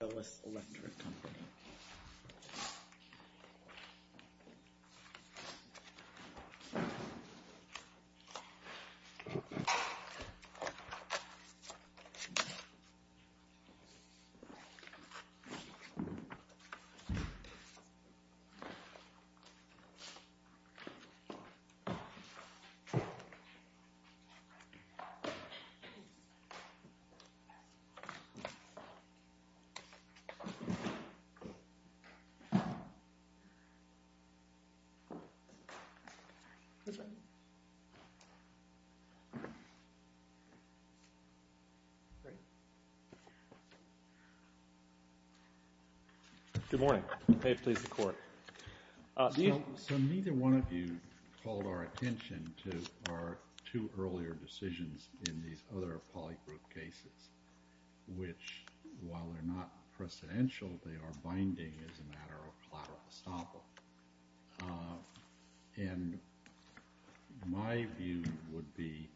Willis Electric Company Good morning. May it please the Court. So neither one of you called our attention to our two earlier decisions in these other polygroup cases, which, while they're not precedential, they are binding as a matter of collateral estoppel. And my view would be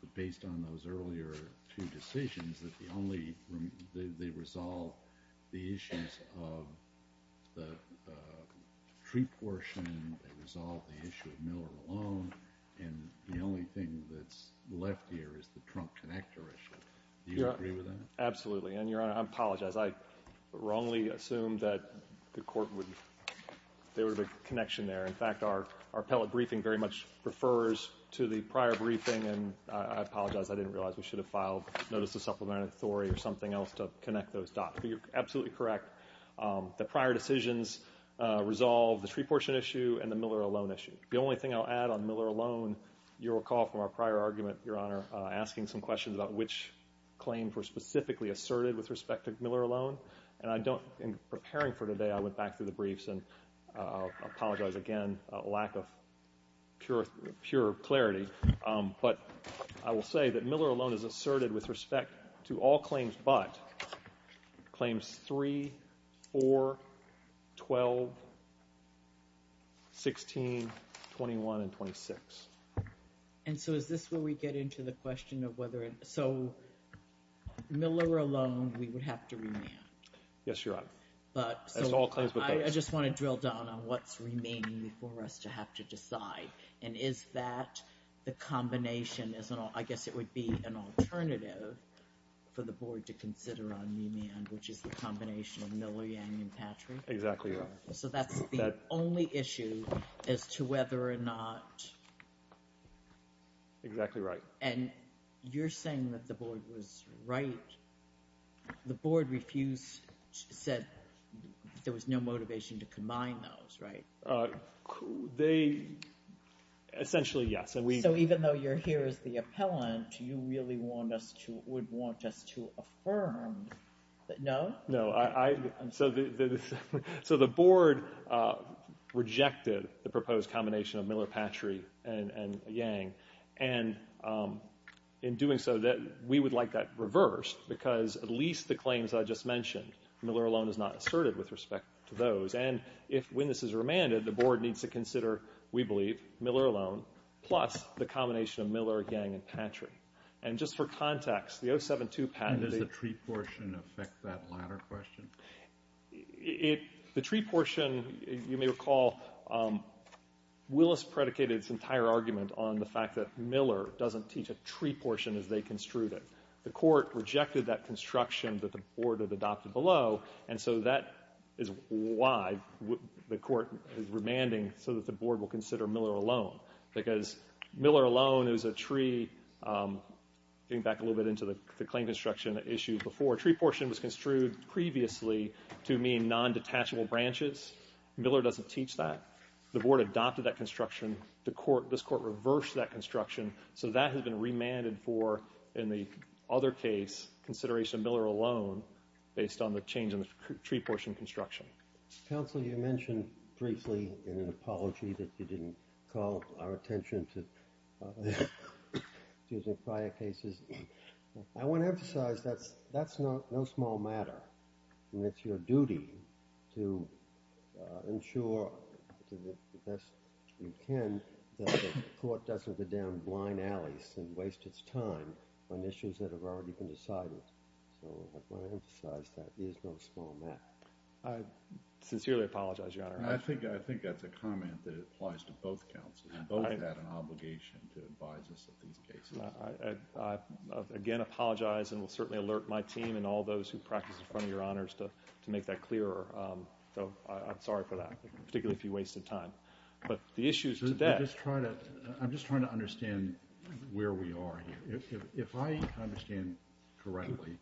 that based on those earlier two decisions, that the only, they resolve the issues of the tree portion, they resolve the issue of Miller alone, and the only thing that's left here is the trunk connector issue. Do you agree with that? Absolutely. And, Your Honor, I apologize. I wrongly assumed that the Court would, there would be a connection there. In fact, our appellate briefing very much refers to the prior briefing, and I apologize. I didn't realize we should have filed notice of supplementary authority or something else to connect those dots. But you're absolutely correct. The prior decisions resolve the tree portion issue and the Miller alone issue. The only thing I'll add on Miller alone, you'll recall from our prior argument, Your Honor, asking some questions about which claims were specifically asserted with respect to Miller alone. And I don't, in preparing for today, I went back through the briefs, and I apologize again, lack of pure clarity. But I will say that Miller alone is asserted with respect to all 12, 16, 21, and 26. And so is this where we get into the question of whether, so Miller alone we would have to remand? Yes, Your Honor. But, so, I just want to drill down on what's remaining for us to have to decide. And is that the combination, I guess it would be an alternative for the Board to consider on that issue? Exactly right. So that's the only issue as to whether or not... Exactly right. And you're saying that the Board was right. The Board refused, said there was no motivation to combine those, right? They, essentially, yes. So even though you're here as the appellant, you really want us to, would want us to affirm that, no? So the Board rejected the proposed combination of Miller-Patry and Yang. And in doing so, we would like that reversed, because at least the claims I just mentioned, Miller alone is not asserted with respect to those. And if, when this is remanded, the Board needs to consider, we believe, Miller alone plus the combination of Miller, Yang, and Patry. And just for context, the 072 patent... Does the tree portion affect that latter question? The tree portion, you may recall, Willis predicated its entire argument on the fact that Miller doesn't teach a tree portion as they construed it. The Court rejected that construction that the Board had adopted below, and so that is why the Court is remanding so that the Board will consider Miller alone. Because Miller alone is a tree, getting back a little bit to the claim construction issue before, tree portion was construed previously to mean non-detachable branches. Miller doesn't teach that. The Board adopted that construction. This Court reversed that construction, so that has been remanded for, in the other case, consideration of Miller alone, based on the change in the tree portion construction. Counsel, you mentioned briefly, in an apology, that you didn't call our attention to the prior cases. I want to emphasize that's no small matter, and it's your duty to ensure, to the best you can, that the Court doesn't go down blind alleys and waste its time on Sincerely apologize, Your Honor. I think that's a comment that applies to both counsels. Both have an obligation to advise us of these cases. I, again, apologize and will certainly alert my team and all those who practice in front of Your Honors to make that clearer. I'm sorry for that, particularly if you wasted time. But the issues to that... I'm just trying to understand where we are here. If I understand correctly,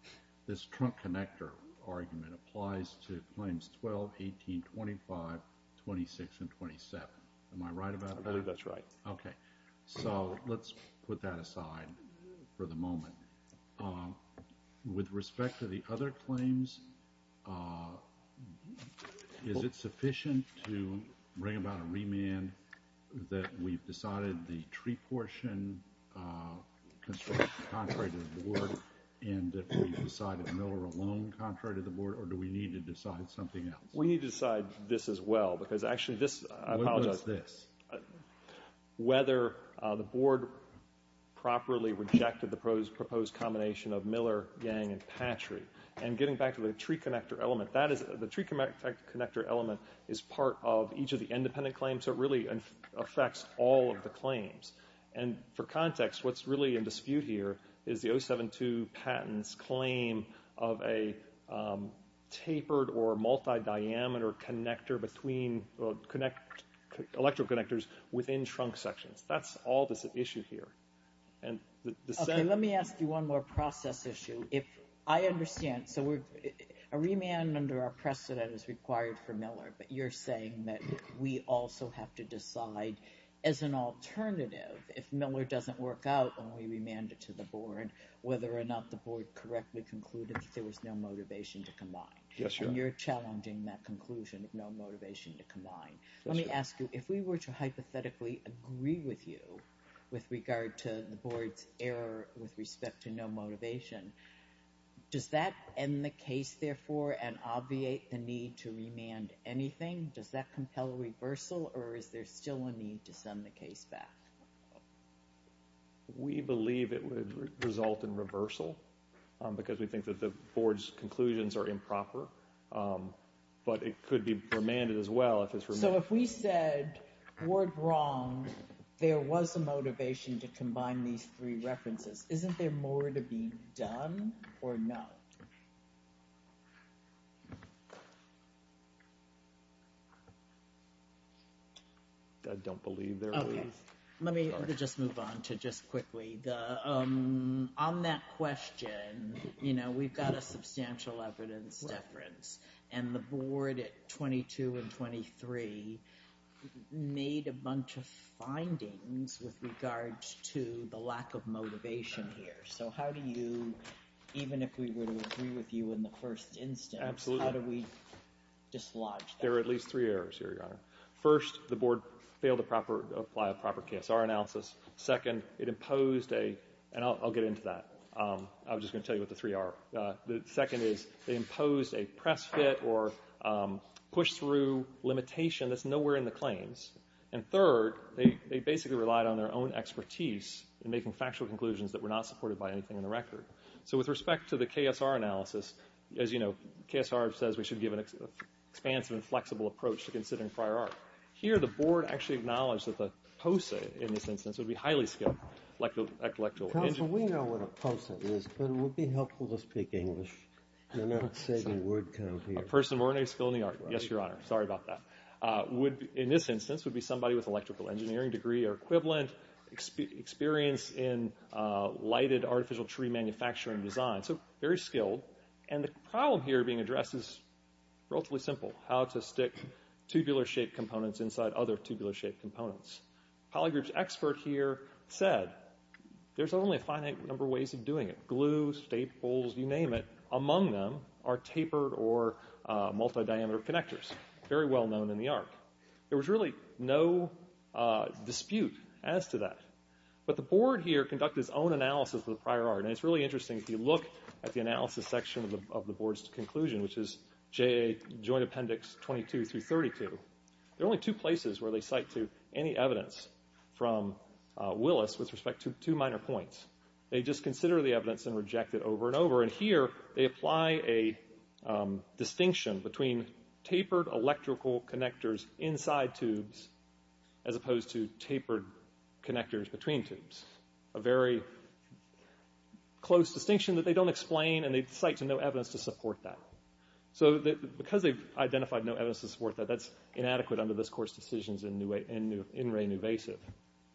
this trunk connector argument applies to claims 12, 18, 25, 26, and 27. Am I right about that? I believe that's right. Okay. So, let's put that aside for the moment. With respect to the other claims, is it sufficient to bring about a remand that we've decided the tree portion construction contrary to the Board, and that we've decided Miller alone contrary to the Board, or do we need to decide something else? We need to decide this as well, because actually this... What is this? Whether the Board properly rejected the proposed combination of Miller, Yang, and Patry. And getting back to the tree connector element, the tree connector element is part of each of the independent claims, so it really affects all of the claims. And for context, what's really in dispute here is the 072 patent's claim of a tapered or multi-diameter connector between electrical connectors within trunk sections. That's all that's at issue here. Okay, let me ask you one more process issue. I understand, so a remand under our precedent is required for Miller, but you're saying that we also have to decide as an alternative if Miller doesn't work out when we remand it to the Board, whether or not the Board correctly concluded that there was no motivation to combine. Yes, Your Honor. And you're challenging that conclusion of no motivation to combine. Yes, Your Honor. Let me ask you, if we were to hypothetically agree with you with regard to the Board's error with respect to no motivation, does that end the case, therefore, and obviate the need to remand anything? Does that compel a reversal, or is there still a need to send the case back? We believe it would result in reversal because we think that the Board's conclusions are improper, but it could be remanded as well if it's remanded. So if we said, Board wrong, there was a motivation to combine these three references, isn't there more to be done or not? I don't believe there is. Okay, let me just move on to just quickly, on that question, you know, we've got a substantial evidence difference, and the Board at 22 and 23 made a bunch of findings with regards to the lack of motivation here. So how do you, even if we were to agree with you in the first instance, how do we dislodge that? There are at least three errors here, Your Honor. First, the Board failed to apply a proper KSR analysis. Second, it imposed a, and I'll get into that. I was just going to tell you what the three are. The second is they imposed a press fit or push-through limitation that's nowhere in the claims. And third, they basically relied on their own expertise in making factual conclusions that were not supported by anything in the record. So with respect to the KSR analysis, as you know, KSR says we should give an expansive and flexible approach to considering prior art. Here, the Board actually acknowledged that the POSA, in this instance, would be highly skilled. Counsel, we know what a POSA is, but it would be helpful to speak English. You're not saying a word count here. A person of ordinary skill in the art. Yes, Your Honor. Sorry about that. In this instance, it would be somebody with an electrical engineering degree or equivalent, experience in lighted artificial tree manufacturing design, so very skilled. And the problem here being addressed is relatively simple, how to stick tubular-shaped components inside other tubular-shaped components. Polygroup's expert here said there's only a finite number of ways of doing it. Glue, staples, you name it, among them are tapered or multidiameter connectors, very well known in the art. There was really no dispute as to that. But the Board here conducted its own analysis of the prior art, and it's really interesting if you look at the analysis section of the Board's conclusion, which is Joint Appendix 22 through 32. There are only two places where they cite to any evidence from Willis with respect to two minor points. They just consider the evidence and reject it over and over. And here they apply a distinction between tapered electrical connectors inside tubes as opposed to tapered connectors between tubes, a very close distinction that they don't explain, and they cite to no evidence to support that. So because they've identified no evidence to support that, that's inadequate under this Court's decisions in re nuvasive.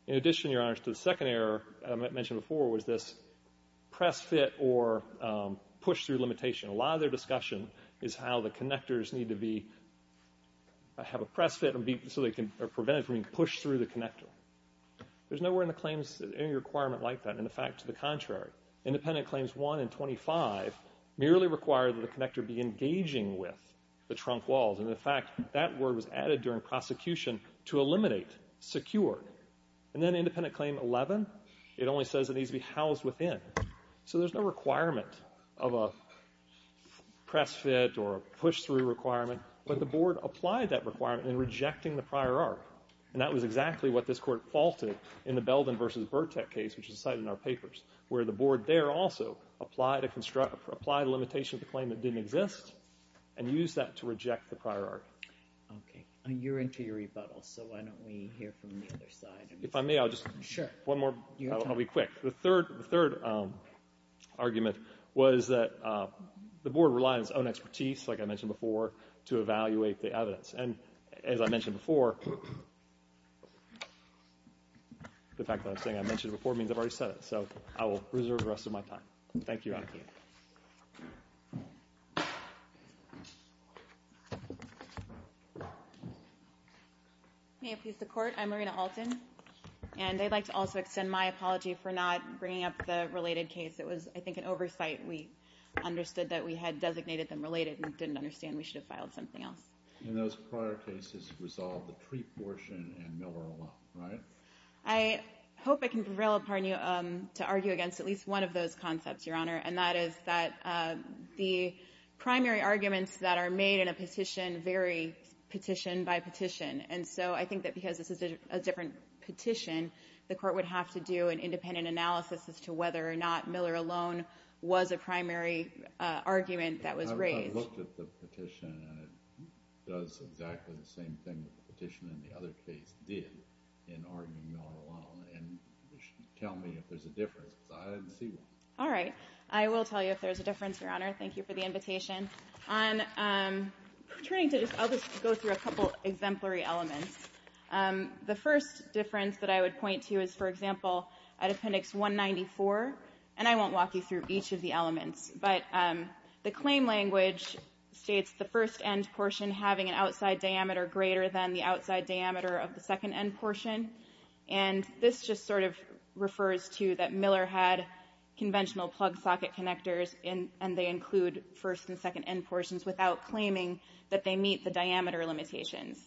In addition, Your Honors, to the second error I mentioned before was this press fit or push through limitation. A lot of their discussion is how the connectors need to have a press fit so they can prevent it from being pushed through the connector. There's nowhere in the claims any requirement like that. In fact, to the contrary, Independent Claims 1 and 25 merely require that the connector be engaging with the trunk walls. And, in fact, that word was added during prosecution to eliminate, secure. And then Independent Claim 11, it only says it needs to be housed within. So there's no requirement of a press fit or a push through requirement, but the Board applied that requirement in rejecting the prior art. And that was exactly what this Court faulted in the Belden v. Burtek case, which is cited in our papers, where the Board there also applied a limitation to the claim that didn't exist and used that to reject the prior art. Okay. And you're into your rebuttal, so why don't we hear from the other side? If I may, I'll just one more. I'll be quick. The third argument was that the Board relied on its own expertise, like I mentioned before, to evaluate the evidence. And as I mentioned before, the fact that I'm saying I mentioned it before means I've already said it, so I will reserve the rest of my time. Thank you. May it please the Court, I'm Marina Alton, and I'd like to also extend my apology for not bringing up the related case. It was, I think, an oversight. We understood that we had designated them related and didn't understand we should have filed something else. In those prior cases, it was all the Treat portion and Miller alone, right? I hope I can prevail upon you to argue against at least one of those concepts, Your Honor, and that is that the primary arguments that are made in a petition vary petition by petition. And so I think that because this is a different petition, the Court would have to do an independent analysis as to whether or not Miller alone was a primary argument that was raised. I looked at the petition, and it does exactly the same thing that the petition in the other case did in arguing Miller alone. And you should tell me if there's a difference, because I didn't see one. All right. I will tell you if there's a difference, Your Honor. Thank you for the invitation. I'll just go through a couple exemplary elements. The first difference that I would point to is, for example, at Appendix 194, and I won't walk you through each of the elements. But the claim language states the first end portion having an outside diameter greater than the outside diameter of the second end portion. And this just sort of refers to that Miller had conventional plug socket connectors, and they include first and second end portions without claiming that they meet the diameter limitations.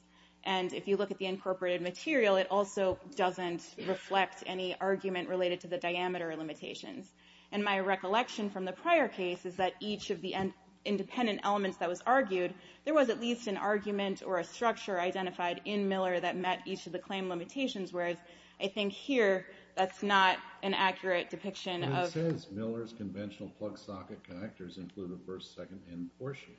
And if you look at the incorporated material, it also doesn't reflect any argument related to the diameter limitations. And my recollection from the prior case is that each of the independent elements that was argued, there was at least an argument or a structure identified in Miller that met each of the claim limitations, whereas I think here that's not an accurate depiction of ---- It says Miller's conventional plug socket connectors include a first, second end portion.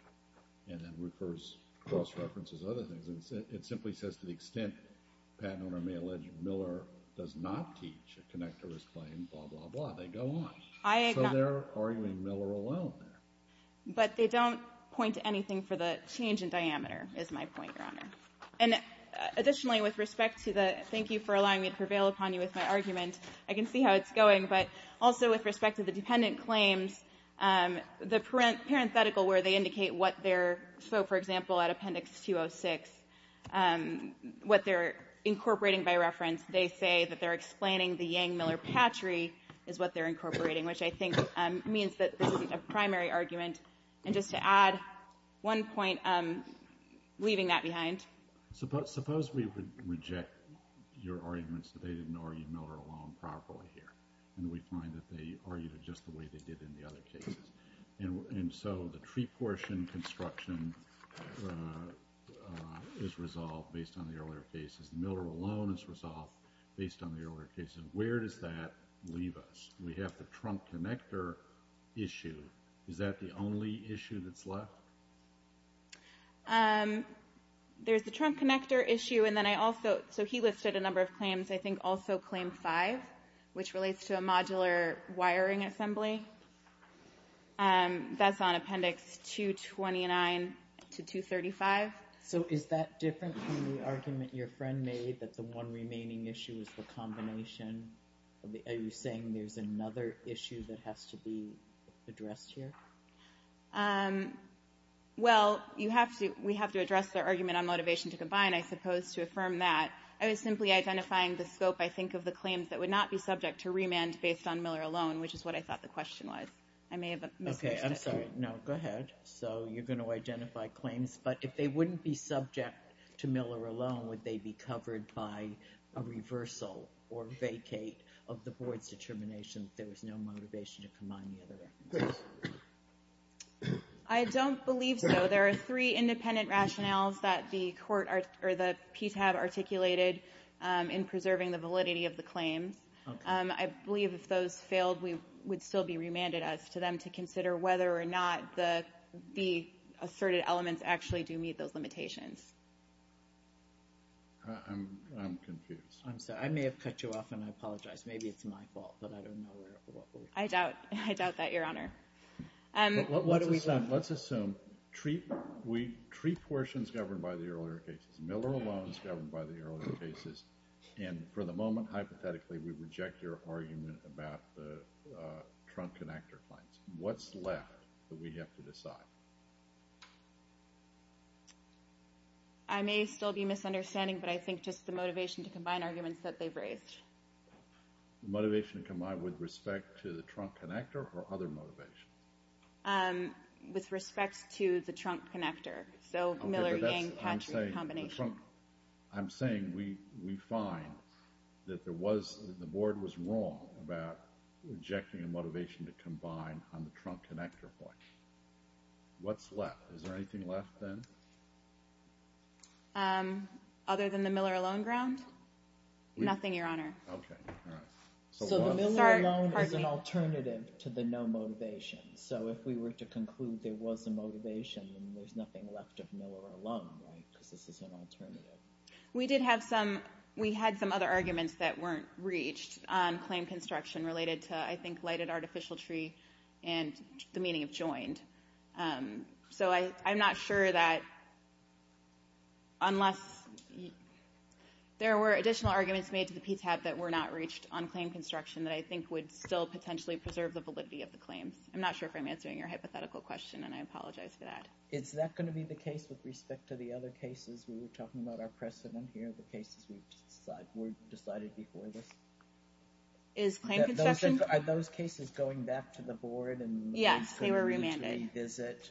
And that refers, cross-references other things. It simply says to the extent, Pat and I may allege, Miller does not teach a connectorless claim, blah, blah, blah. They go on. So they're arguing Miller alone there. But they don't point to anything for the change in diameter, is my point, Your Honor. And additionally, with respect to the ---- thank you for allowing me to prevail upon you with my argument. I can see how it's going. But also with respect to the dependent claims, the parenthetical where they indicate what they're ---- so, for example, at Appendix 206, what they're incorporating by reference, they say that they're explaining the Yang-Miller patchery is what they're incorporating, which I think means that this is a primary argument. And just to add one point, leaving that behind. Suppose we would reject your arguments that they didn't argue Miller alone properly here, and we find that they argued it just the way they did in the other cases. And so the tree portion construction is resolved based on the earlier cases. Miller alone is resolved based on the earlier cases. Where does that leave us? We have the trunk connector issue. Is that the only issue that's left? There's the trunk connector issue, and then I also ---- so he listed a number of claims. I think also Claim 5, which relates to a modular wiring assembly. That's on Appendix 229 to 235. So is that different from the argument your friend made that the one remaining issue is the combination? Are you saying there's another issue that has to be addressed here? Well, we have to address their argument on motivation to combine, I suppose, to affirm that. I was simply identifying the scope, I think, of the claims that would not be subject to remand based on Miller alone, which is what I thought the question was. I may have misunderstood it. Okay, I'm sorry. No, go ahead. So you're going to identify claims, but if they wouldn't be subject to Miller alone, would they be covered by a reversal or vacate of the Board's determination that there was no motivation to combine the other references? I don't believe so. There are three independent rationales that the court or the PTAB articulated in preserving the validity of the claims. I believe if those failed, we would still be remanded as to them to consider whether or not the asserted elements actually do meet those limitations. I'm confused. I'm sorry. I may have cut you off, and I apologize. Maybe it's my fault, but I don't know where or what we're talking about. I doubt that, Your Honor. Let's assume three portions governed by the earlier cases, Miller alone is governed by the earlier cases, and for the moment, hypothetically, we reject your argument about the trunk-connector claims. What's left that we have to decide? I may still be misunderstanding, but I think just the motivation to combine arguments that they've raised. Motivation to combine with respect to the trunk-connector or other motivations? With respect to the trunk-connector. So Miller-Yang-Patrick combination. I'm saying we find that the Board was wrong about rejecting a motivation to combine on the trunk-connector point. What's left? Is there anything left then? Other than the Miller alone ground? Nothing, Your Honor. Okay. All right. So the Miller alone is an alternative to the no motivation. So if we were to conclude there was a motivation, then there's nothing left of Miller alone, right, because this is an alternative. We did have some other arguments that weren't reached on claim construction related to, I think, lighted artificial tree and the meaning of joined. So I'm not sure that unless there were additional arguments made to the PTAB that were not reached on claim construction that I think would still potentially preserve the validity of the claims. I'm not sure if I'm answering your hypothetical question, and I apologize for that. Is that going to be the case with respect to the other cases we were talking about, our precedent here, the cases we've decided before this? Is claim construction? Are those cases going back to the board? Yes, they were remanded. Is it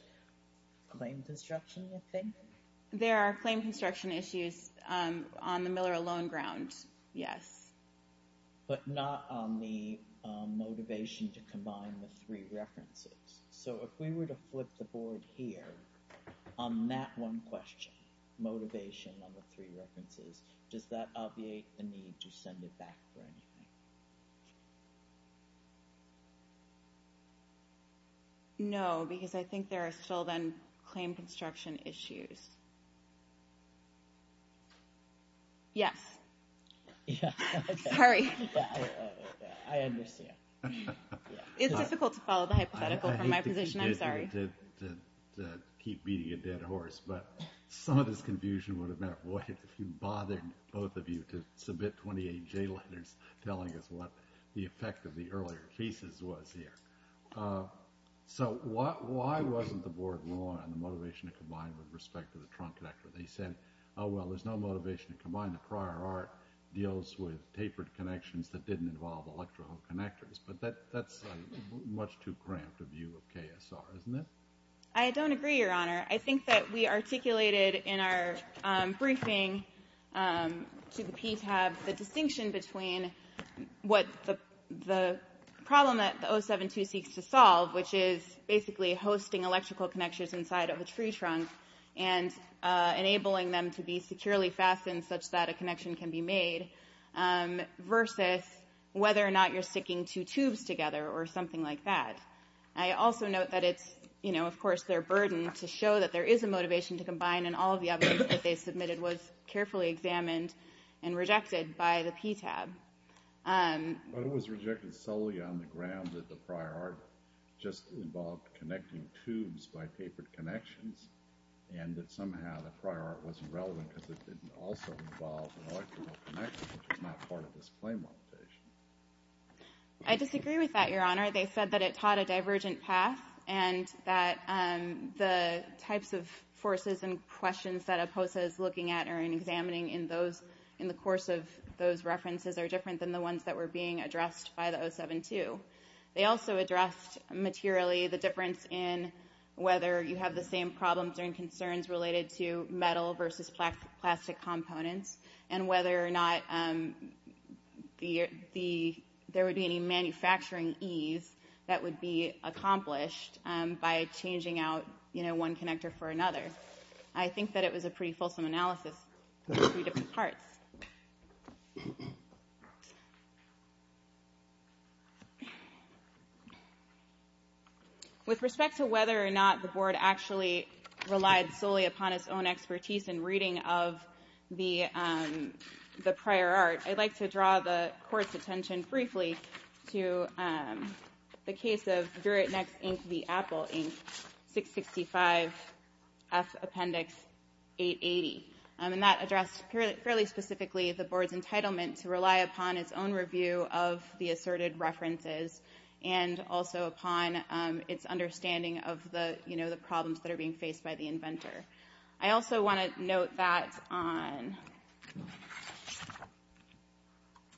claim construction, you think? There are claim construction issues on the Miller alone ground, yes. But not on the motivation to combine the three references. So if we were to flip the board here on that one question, motivation on the three references, does that obviate the need to send it back for anything? No, because I think there are still then claim construction issues. Yes. Sorry. I understand. It's difficult to follow the hypothetical from my position. I'm sorry. I hate to keep beating a dead horse, but some of this confusion would have been avoided if you bothered both of you to submit 28 J letters telling us what the effect of the earlier cases was here. So why wasn't the board wrong on the motivation to combine with respect to the trunk connector? They said, oh, well, there's no motivation to combine. The prior art deals with tapered connections that didn't involve electrical connectors. But that's much too cramped a view of KSR, isn't it? I don't agree, Your Honor. I think that we articulated in our briefing to the PTAB the distinction between what the problem that the 072 seeks to solve, which is basically hosting electrical connections inside of a tree trunk and enabling them to be securely fastened such that a connection can be made, versus whether or not you're sticking two tubes together or something like that. I also note that it's, you know, of course, their burden to show that there is a motivation to combine, and all of the evidence that they submitted was carefully examined and rejected by the PTAB. But it was rejected solely on the grounds that the prior art just involved connecting tubes by tapered connections and that somehow the prior art was irrelevant because it didn't also involve an electrical connection, which was not part of this claim application. I disagree with that, Your Honor. They said that it taught a divergent path and that the types of forces and questions that APOSA is looking at or examining in the course of those references are different than the ones that were being addressed by the 072. They also addressed materially the difference in whether you have the same problems and concerns related to metal versus plastic components and whether or not there would be any manufacturing ease that would be accomplished by changing out, you know, one connector for another. I think that it was a pretty fulsome analysis of three different parts. With respect to whether or not the board actually relied solely upon its own expertise in reading of the prior art, I'd like to draw the court's attention briefly to the case of Durant-Nex, Inc., v. Apple, Inc., 665F Appendix 880. And that addressed fairly specifically the board's entitlement to rely upon its own review of the asserted references and also upon its understanding of the, you know, the problems that are being faced by the inventor. I also want to note that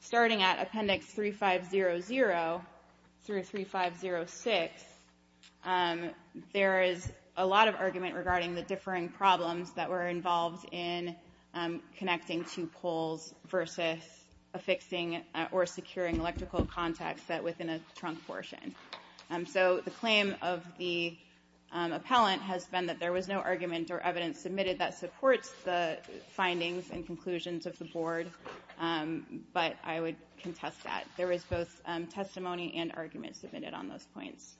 starting at Appendix 3500 through 3506, there is a lot of argument regarding the differing problems that were involved in connecting two poles versus affixing or securing electrical contacts set within a trunk portion. So the claim of the appellant has been that there was no argument or evidence submitted that supports the findings and conclusions of the board, but I would contest that. There was both testimony and argument submitted on those points.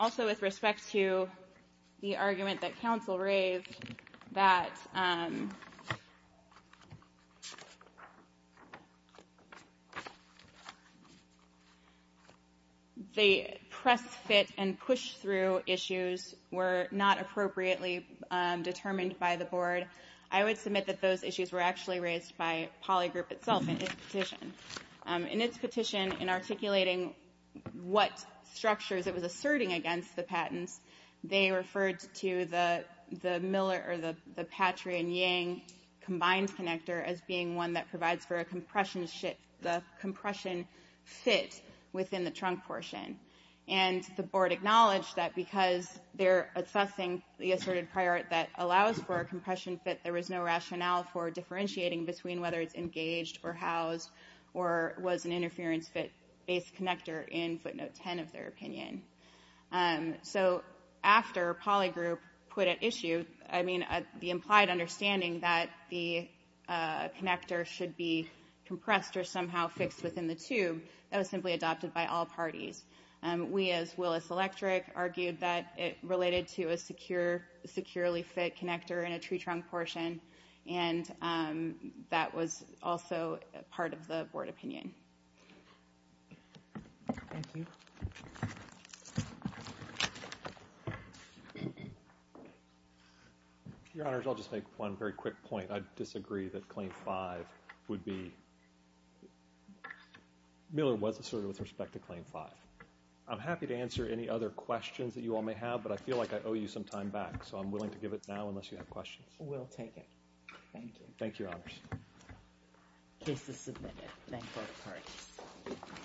Also, with respect to the argument that counsel raised that the press fit and push through issues were not appropriately determined by the board, I would submit that those issues were actually raised by Poly Group itself in its petition. In its petition, in articulating what structures it was asserting against the patents, they referred to the Miller or the Patriot and Yang combined connector as being one that provides for a compression fit within the trunk portion. And the board acknowledged that because they're assessing the asserted prior art that allows for a compression fit, there was no rationale for differentiating between whether it's engaged or housed or was an interference fit-based connector in footnote 10 of their opinion. So after Poly Group put at issue, I mean, the implied understanding that the connector should be compressed or somehow fixed within the tube, that was simply adopted by all parties. We, as Willis Electric, argued that it related to a securely fit connector in a tree trunk portion, and that was also part of the board opinion. Thank you. Your Honors, I'll just make one very quick point. I disagree that Claim 5 would be, Miller was asserted with respect to Claim 5. I'm happy to answer any other questions that you all may have, but I feel like I owe you some time back, so I'm willing to give it now unless you have questions. We'll take it. Thank you. Thank you, Your Honors. Case is submitted. Thank both parties.